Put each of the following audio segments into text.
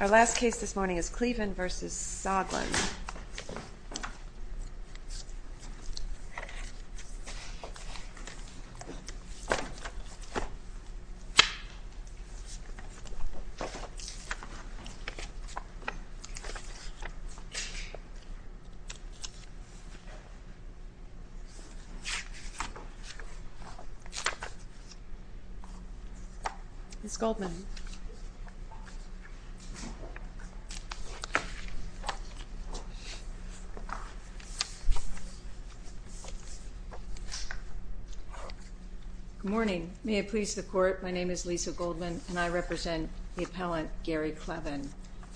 Our last case this morning is Cleven v. Soglin. Ms. Goldman Good morning. May it please the Court, my name is Lisa Goldman, and I represent the appellant Gary Cleven.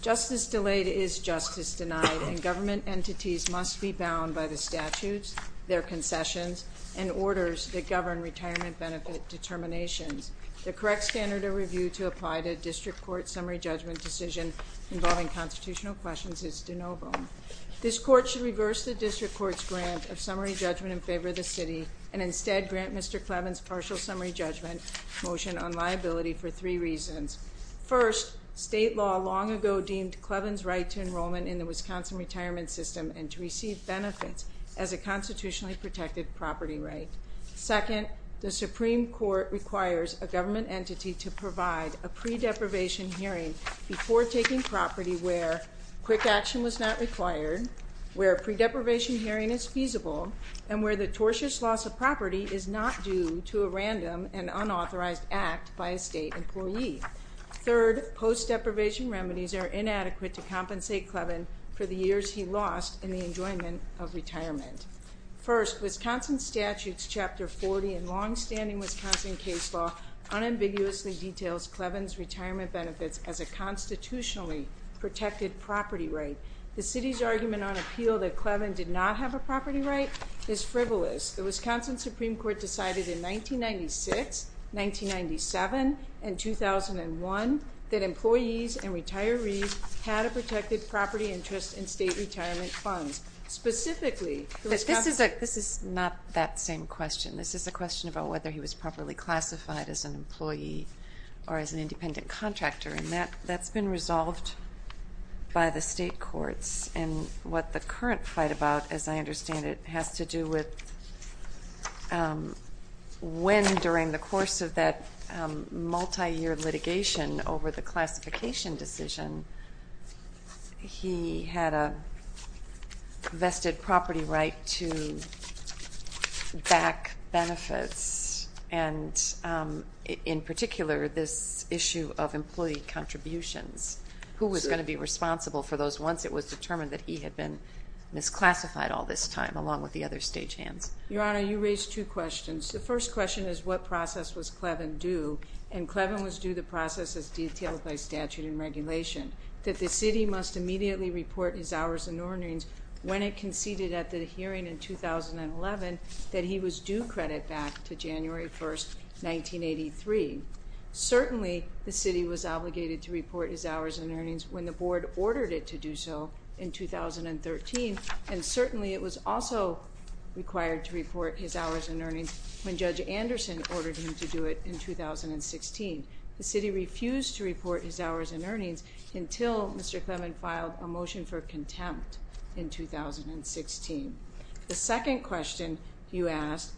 Justice delayed is justice denied, and government entities must be bound by the statutes, their concessions, and orders that govern retirement benefit determinations. The correct standard of review to apply to a district court summary judgment decision involving constitutional questions is de novo. This Court should reverse the district court's grant of summary judgment in favor of the city, and instead grant Mr. Cleven's partial summary judgment motion on liability for three reasons. First, state law long ago deemed Cleven's right to enrollment in the Wisconsin retirement system and to government entity to provide a pre-deprivation hearing before taking property where quick action was not required, where a pre-deprivation hearing is feasible, and where the tortious loss of property is not due to a random and unauthorized act by a state employee. Third, post-deprivation remedies are inadequate to compensate Cleven for the years he lost in the enjoyment of retirement. First, Wisconsin statutes chapter 40 in longstanding Wisconsin case law unambiguously details Cleven's retirement benefits as a constitutionally protected property right. The city's argument on appeal that Cleven did not have a property right is frivolous. The Wisconsin Supreme Court decided in 1996, 1997, and 2001 that employees and retirees had a protected property interest in state retirement funds. Specifically, the Wisconsin This is not that same question. This is a question about whether he was properly classified as an employee or as an independent contractor, and that's been resolved by the state courts. And what the current fight about, as I understand it, has to do with when during the course of that multi-year litigation over the classification decision, he had a vested property right to back benefits, and in particular, this issue of employee contributions. Who was going to be responsible for those once it was determined that he had been misclassified all this time along with the other stagehands? Your Honor, you raised two questions. The first question is what process was Cleven due, and Cleven was due the process as detailed by statute and regulation, that the city must immediately report his hours and earnings when it conceded at the hearing in 2011 that he was due credit back to January 1, 1983. Certainly, the city was obligated to report his hours and earnings when the board ordered it to do so in 2013, and certainly it was also required to report his hours and earnings when Judge Anderson ordered him to do it in 2016. The city refused to report his hours and earnings until Mr. Cleven filed a motion for contempt in 2016. The second question you asked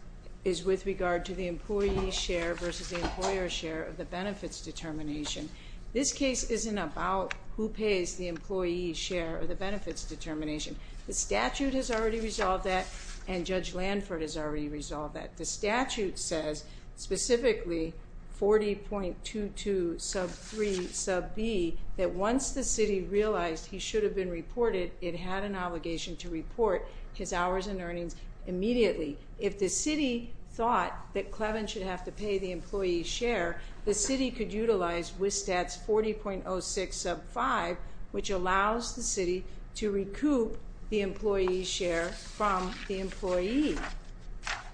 is with regard to the employee's share versus the employer's share of the benefits determination. This case isn't about who pays the employee's share of the benefits determination. The statute has already resolved that, and Judge Lanford has already resolved that. The statute says specifically 40.22 sub 3 sub b, that once the city realized he should have been reported, it had an obligation to report his hours and earnings immediately. If the city thought that Cleven should have to pay the employee's share, the city could utilize WSSTAT's 40.06 sub 5, which allows the city to recoup the employee's share from the employee.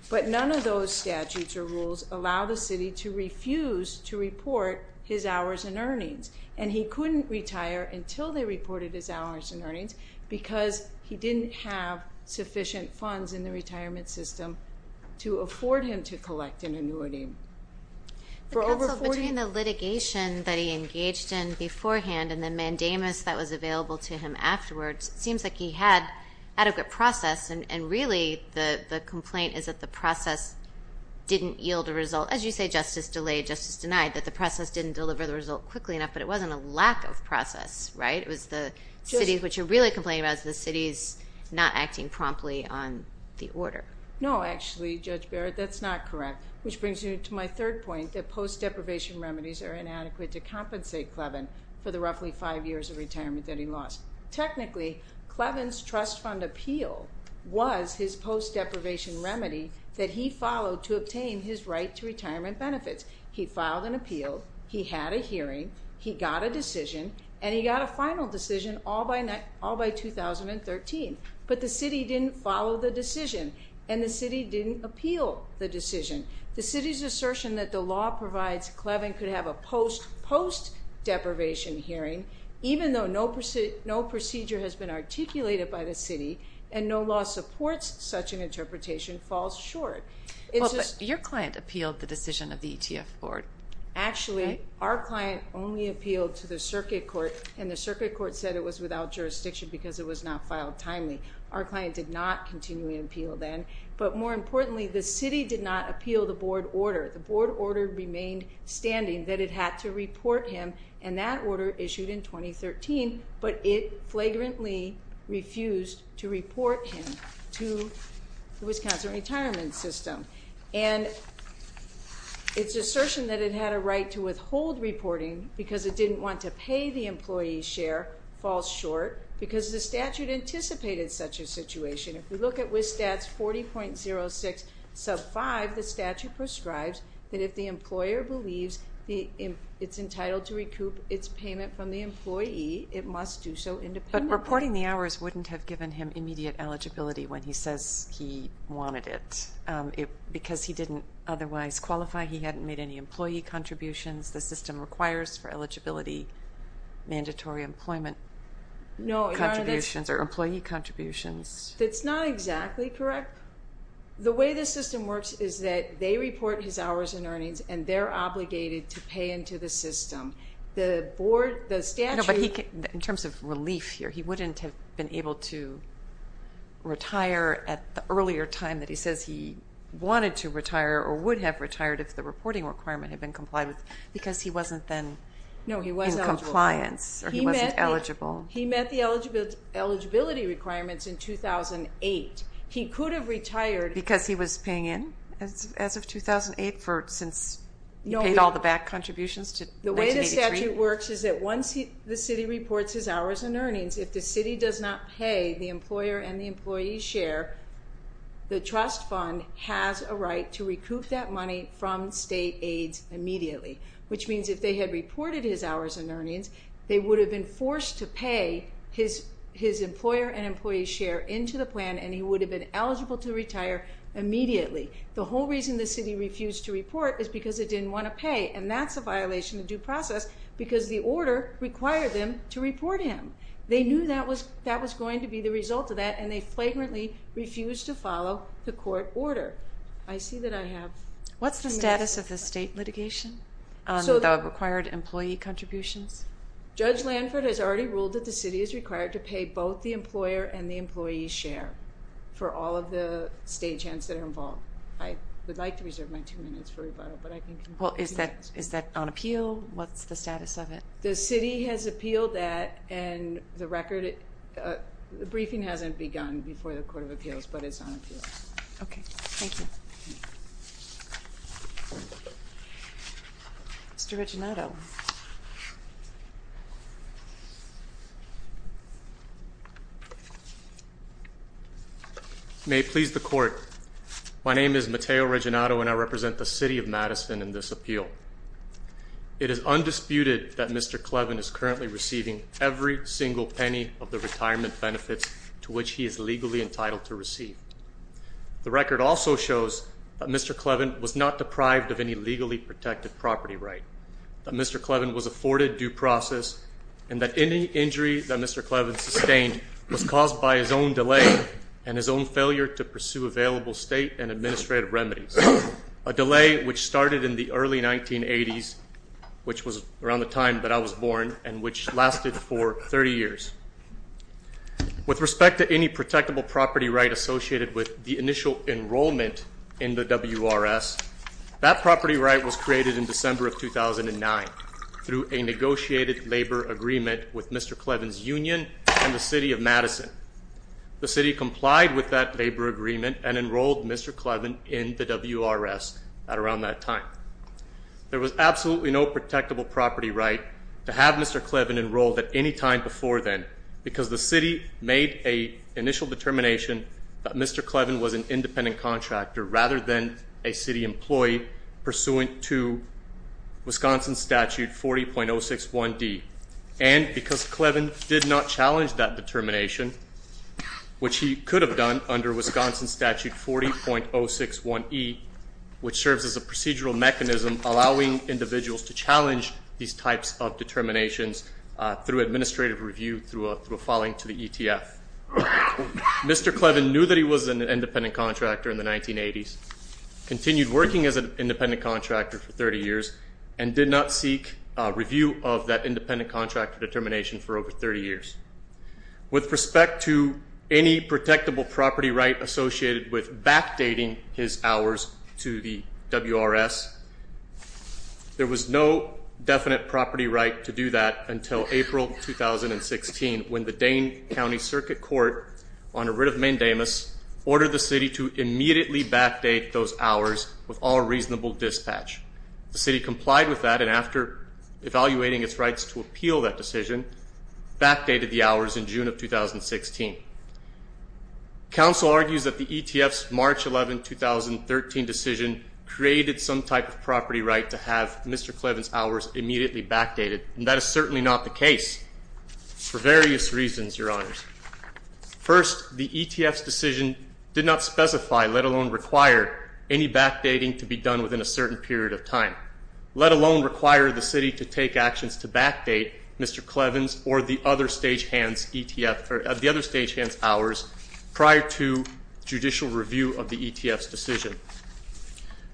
But none of those statutes or rules allow the city to refuse to report his hours and earnings, and he couldn't retire until they reported his hours and earnings because he didn't have to collect an annuity. The counsel, between the litigation that he engaged in beforehand and the mandamus that was available to him afterwards, it seems like he had adequate process and really the complaint is that the process didn't yield a result. As you say, justice delayed, justice denied, that the process didn't deliver the result quickly enough, but it wasn't a lack of process, right? It was the city, what you're really complaining about is the city's not acting promptly on the order. No, actually, Judge Barrett, that's not correct, which brings me to my third point, that post-deprivation remedies are inadequate to compensate Cleven for the roughly five years of retirement that he lost. Technically, Cleven's trust fund appeal was his post-deprivation remedy that he followed to obtain his right to retirement benefits. He filed an appeal, he had a hearing, he got a decision, and he got a final decision all by 2013. But the city didn't follow the decision, and the city didn't appeal the decision. The city's assertion that the law provides Cleven could have a post-post-deprivation hearing, even though no procedure has been articulated by the city, and no law supports such an interpretation, falls short. Well, but your client appealed the decision of the ETF board. Actually, our client only appealed to the circuit court, and the circuit court said it was without jurisdiction because it was not filed timely. Our client did not continually appeal then, but more importantly, the city did not appeal the board order. The board order remained standing, that it had to report him, and that order issued in 2013, but it flagrantly refused to report him to the Wisconsin retirement system. And its assertion that it had a right to withhold reporting because it didn't want to pay the employee's share falls short, because the statute anticipated such a situation. If we look at WSSTATS 40.06 sub 5, the statute prescribes that if the employer believes it's entitled to recoup its payment from the employee, it must do so independently. But reporting the hours wouldn't have given him immediate eligibility when he says he wanted it, because he didn't otherwise qualify. He hadn't made any employee contributions. The system requires for eligibility mandatory employment contributions, or employee contributions. It's not exactly correct. The way the system works is that they report his hours and earnings, and they're obligated to pay into the system. The board, the statute... No, but in terms of relief here, he wouldn't have been able to retire at the earlier time that he says he wanted to retire, or would have retired if the reporting requirement had been complied with, because he wasn't then in compliance, or he wasn't eligible. He met the eligibility requirements in 2008. He could have retired... Because he was paying in as of 2008, since he paid all the back contributions to 1983? The way the statute works is that once the city reports his hours and earnings, if the city does not pay the employer and the employee's share, the trust fund has a right to recoup that money from state aides immediately, which means if they had reported his hours and earnings, they would have been forced to pay his employer and employee's share into the plan, and he would have been eligible to retire immediately. The whole reason the city refused to report is because it didn't want to pay, and that's a violation of due process, because the order required them to report him. They knew that was going to be the result of that, and they flagrantly refused to follow the court order. I see that I have... What's the status of the state litigation on the required employee contributions? Judge Lanford has already ruled that the city is required to pay both the employer and the employee's share for all of the state gents that are involved. I would like to reserve my two minutes for rebuttal, but I can... Well, is that on appeal? What's the status of it? The city has appealed that, and the record... The briefing hasn't begun before the Court of Appeals, but it's on appeal. Okay. Thank you. Mr. Reginato. May it please the Court. My name is Mateo Reginato, and I represent the City of Madison in this appeal. It is undisputed that Mr. Clevin is currently receiving every single penny of the retirement benefits to which he is legally entitled to receive. The record also shows that Mr. Clevin was not deprived of any legally protected property right, that Mr. Clevin was afforded due process, and that any injury that Mr. Clevin sustained was caused by his own delay and his own failure to pursue available state and administrative remedies, a delay which started in the early 1980s, which was around the time that I was born, and which lasted for 30 years. With respect to any protectable property right associated with the initial enrollment in the WRS, that property right was created in December of 2009 through a negotiated labor agreement with Mr. Clevin's union and the City of Madison. The city complied with that labor agreement and enrolled Mr. Clevin in the WRS at around that time. There was absolutely no protectable property right to have Mr. Clevin enrolled at any time before then, because the city made an initial determination that Mr. Clevin was an independent contractor rather than a city employee pursuant to Wisconsin Statute 40.061D. And because Clevin did not challenge that determination, which he could have done under Wisconsin Statute 40.061E, which serves as a procedural mechanism allowing individuals to challenge these types of determinations through administrative review through a filing to the ETF. Mr. Clevin knew that he was an independent contractor in the 1980s, continued working as an independent contractor for 30 years, and did not seek review of that independent contractor determination for over 30 years. With respect to any protectable property right associated with backdating his hours to the WRS, there was no definite property right to do that until April 2016 when the Dane County Circuit Court, under writ of mandamus, ordered the city to immediately backdate those hours with all reasonable dispatch. The city complied with that, and after evaluating its rights to appeal that decision, backdated the hours in June of 2016. Council argues that the ETF's March 11, 2013 decision created some type of property right to have Mr. Clevin's hours immediately backdated, and that is certainly not the case for various reasons, your honors. First, the ETF's decision did not specify, let alone require, any backdating to be done within a certain period of time, let alone require the city to take actions to backdate Mr. Clevin's or the other stage hand's ETF, or the other stage hand's hours, prior to judicial review of the ETF's decision.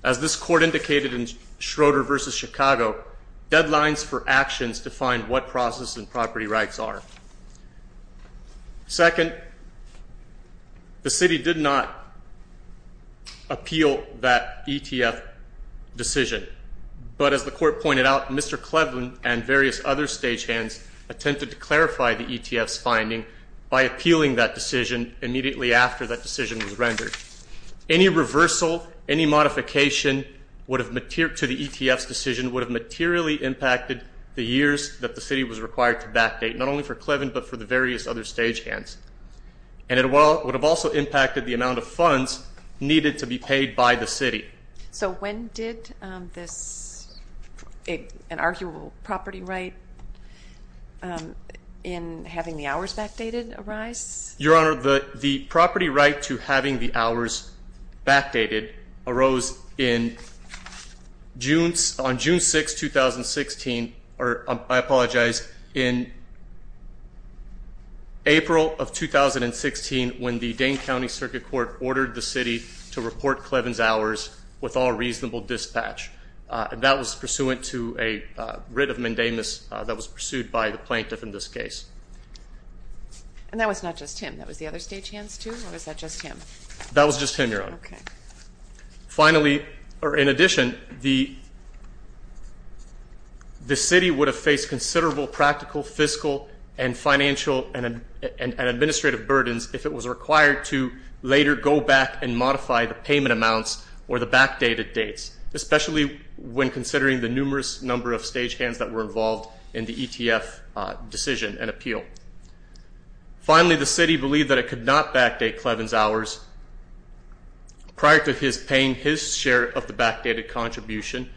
As this court indicated in Schroeder v. Chicago, deadlines for actions define what process and property rights are. Second, the city did not appeal that ETF decision, but as the court pointed out, Mr. Clevin and various other stage hands attempted to clarify the ETF's finding by appealing that decision immediately after that decision was rendered. Any reversal, any modification to the ETF's decision would have materially impacted the years that the city was required to backdate, not only for Clevin, but for the various other stage hands. And it would have also impacted the amount of funds needed to be paid by the city. So when did this, an arguable property right, in having the hours backdated arise? Your honor, the property right to having the hours backdated arose in June, on June 6, 2016, or I apologize, in April of 2016 when the Dane County Circuit Court ordered the city to report Clevin's hours with all reasonable dispatch. And that was pursuant to a writ of mendamus that was pursued by the plaintiff in this case. And that was not just him, that was the other stage hands too, or was that just him? That was just him, your honor. Okay. Finally, or in addition, the city would have faced considerable practical, fiscal, and financial, and administrative burdens if it was required to later go back and modify the payment amounts or the backdated dates, especially when considering the numerous number of stage hands that were involved in the ETF decision and appeal. Finally, the city believed that it could not backdate Clevin's hours prior to his paying his share of the backdated contribution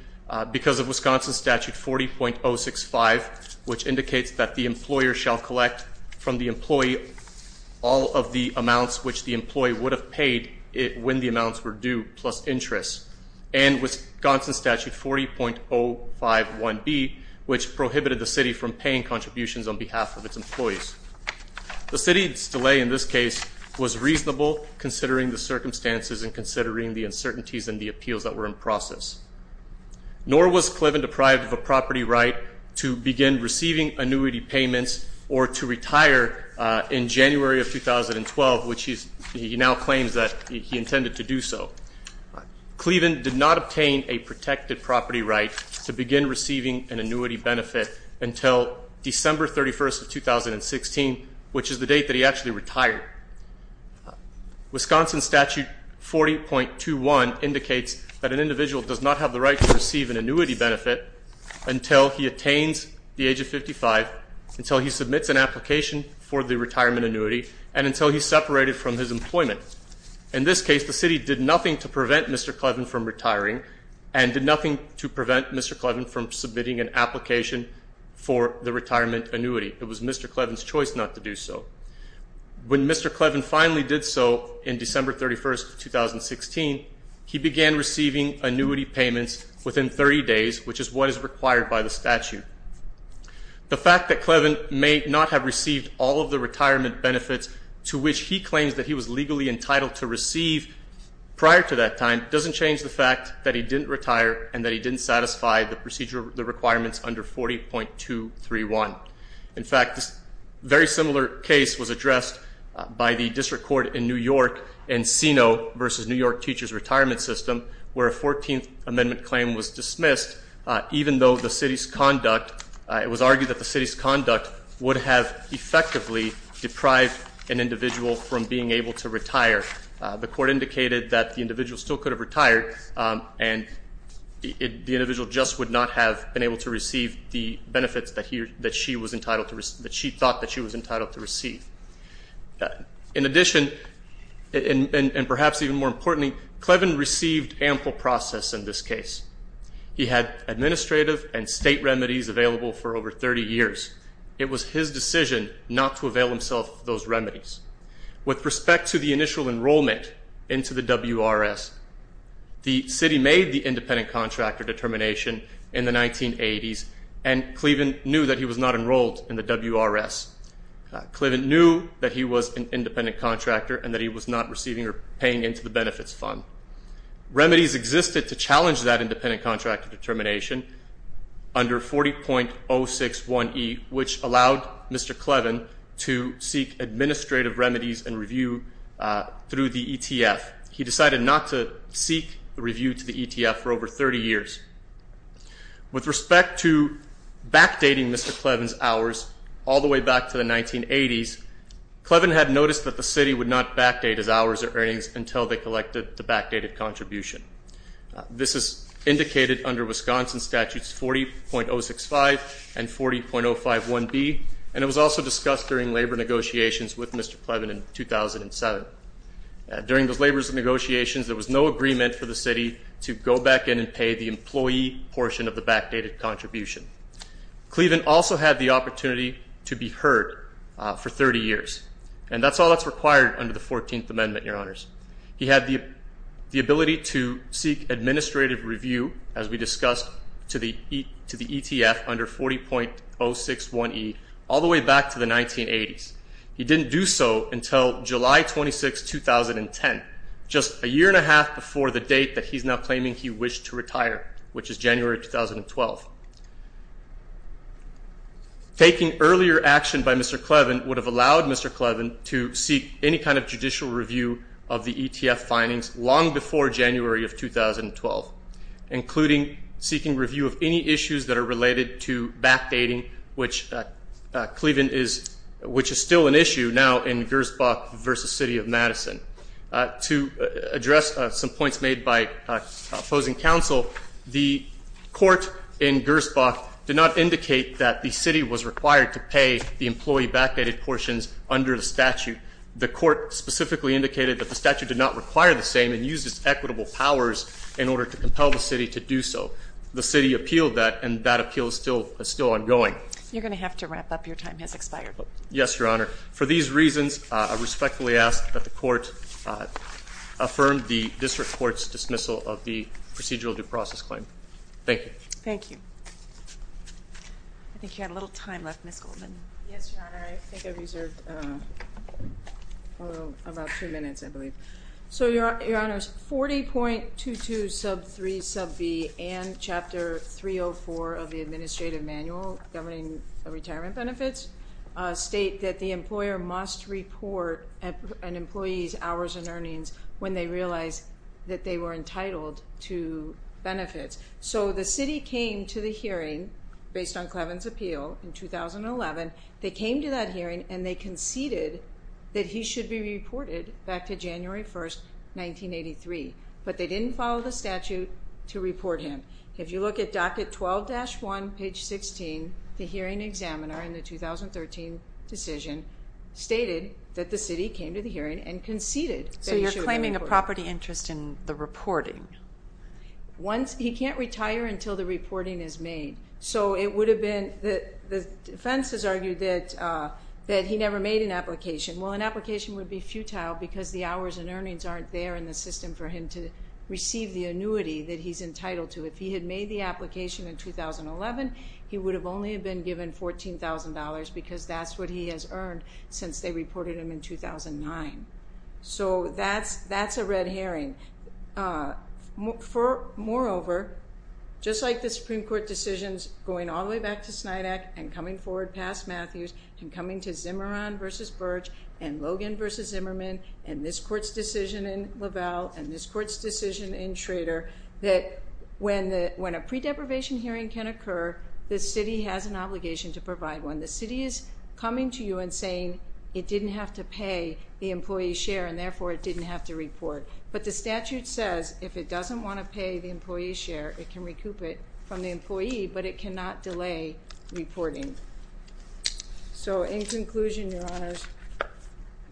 because of Wisconsin Statute 40.065, which indicates that the employer shall collect from the employee all of the amounts which the employee would have paid when the amounts were due, plus interest. And Wisconsin Statute 40.051B, which prohibited the city from paying contributions on behalf of its employees. The city's delay in this case was reasonable considering the circumstances and considering the uncertainties in the appeals that were in process. Nor was Clevin deprived of a property right to begin receiving annuity payments or to retire in January of 2012, which he now claims that he intended to do so. Clevin did not obtain a protected property right to begin receiving an annuity benefit until December 31st of 2016, which is the date that he actually retired. Finally, Wisconsin Statute 40.21 indicates that an individual does not have the right to receive an annuity benefit until he attains the age of 55, until he submits an application for the retirement annuity, and until he's separated from his employment. In this case, the city did nothing to prevent Mr. Clevin from retiring and did nothing to prevent Mr. Clevin from submitting an application for the retirement annuity. It was Mr. Clevin's choice not to do so. When Mr. Clevin finally did so in December 31st of 2016, he began receiving annuity payments within 30 days, which is what is required by the statute. The fact that Clevin may not have received all of the retirement benefits to which he claims that he was legally entitled to receive prior to that time doesn't change the fact that he didn't retire and that he didn't satisfy the requirements under 40.231. In fact, this very similar case was addressed by the district court in New York in CINO versus New York Teachers Retirement System, where a 14th amendment claim was dismissed, even though the city's conduct, it was argued that the city's conduct would have effectively deprived an individual from being able to retire. The court indicated that the individual still could have retired and the individual just would not have been able to receive the benefits that she thought that she was entitled to receive. In addition, and perhaps even more importantly, Clevin received ample process in this case. He had administrative and state remedies available for over 30 years. It was his decision not to avail himself of those remedies. With respect to the initial enrollment into the WRS, the city made the independent contractor determination in the 1980s, and Clevin knew that he was not enrolled in the WRS. Clevin knew that he was an independent contractor and that he was not receiving or paying into the benefits fund. Remedies existed to challenge that independent contractor determination under 40.061e, which allowed Mr. Clevin to seek administrative remedies and review through the ETF. He decided not to seek a review to the ETF for over 30 years. With respect to backdating Mr. Clevin's hours all the way back to the 1980s, Clevin had noticed that the city would not backdate his hours or earnings until they collected the backdated contribution. This is indicated under Wisconsin statutes 40.065 and 40.051b, and it was also discussed during labor negotiations with Mr. Clevin in 2007. During those labor negotiations, there was no agreement for the city to go back in and pay the employee portion of the backdated contribution. Clevin also had the opportunity to be heard for 30 years, and that's all that's required under the 14th amendment, your honors. He had the ability to seek administrative review, as we discussed, to the ETF under 40.061e all the way back to the 1980s. He didn't do so until July 26, 2010, just a year and a half before the date that he's now claiming he wished to retire, which is January 2012. Taking earlier action by Mr. Clevin would have allowed Mr. Clevin to seek any kind of judicial review of the ETF findings long before January of 2012, including seeking review of any issues that are related to backdating, which Clevin is, which is still an issue now in Gersbach versus City of Madison. To address some points made by opposing counsel, the court in Gersbach did not indicate that the city was required to pay the employee backdated portions under the the statute did not require the same and used its equitable powers in order to compel the city to do so. The city appealed that, and that appeal is still ongoing. You're going to have to wrap up. Your time has expired. Yes, your honor. For these reasons, I respectfully ask that the court affirm the district court's dismissal of the procedural due process claim. Thank you. Thank you. So, your honor, 40.22 sub 3 sub b and chapter 304 of the administrative manual governing retirement benefits state that the employer must report an employee's hours and earnings when they realize that they were entitled to benefits. So the city came to the hearing based on Clevin's appeal in 2011. They came to that hearing and they conceded that he should be reported back to January 1st, 1983, but they didn't follow the statute to report him. If you look at docket 12-1 page 16, the hearing examiner in the 2013 decision stated that the city came to the hearing and conceded. So you're claiming a property interest in the reporting. Once he can't retire until the reporting is made. So it would have been that the defense has argued that that he never made an application. Well, an application would be futile because the hours and earnings aren't there in the system for him to receive the annuity that he's entitled to. If he had made the application in 2011, he would have only been given $14,000 because that's what he has earned since they reported him in 2009. So that's a red herring. Moreover, just like the coming to Zimmerman v. Burge and Logan v. Zimmerman and this court's decision in LaValle and this court's decision in Schrader, that when a pre-deprivation hearing can occur, the city has an obligation to provide one. The city is coming to you and saying it didn't have to pay the employee's share and therefore it didn't have to report. But the statute says if it doesn't want to pay the employee's share, it can recoup it from the employee, but it cannot delay reporting. So in conclusion, your honors,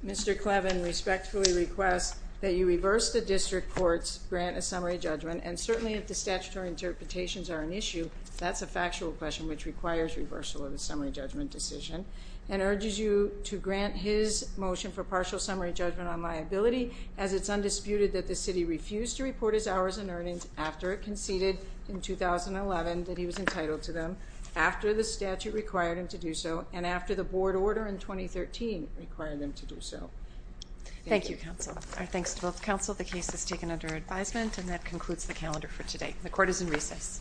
Mr. Clevin respectfully requests that you reverse the district court's grant of summary judgment and certainly if the statutory interpretations are an issue, that's a factual question which requires reversal of the summary judgment decision and urges you to grant his motion for partial summary judgment on liability as it's undisputed that the city refused to report his hours and earnings after it conceded in 2011 that he was the statute required him to do so and after the board order in 2013 required them to do so. Thank you, counsel. Our thanks to both counsel. The case is taken under advisement and that concludes the calendar for today. The court is in recess. you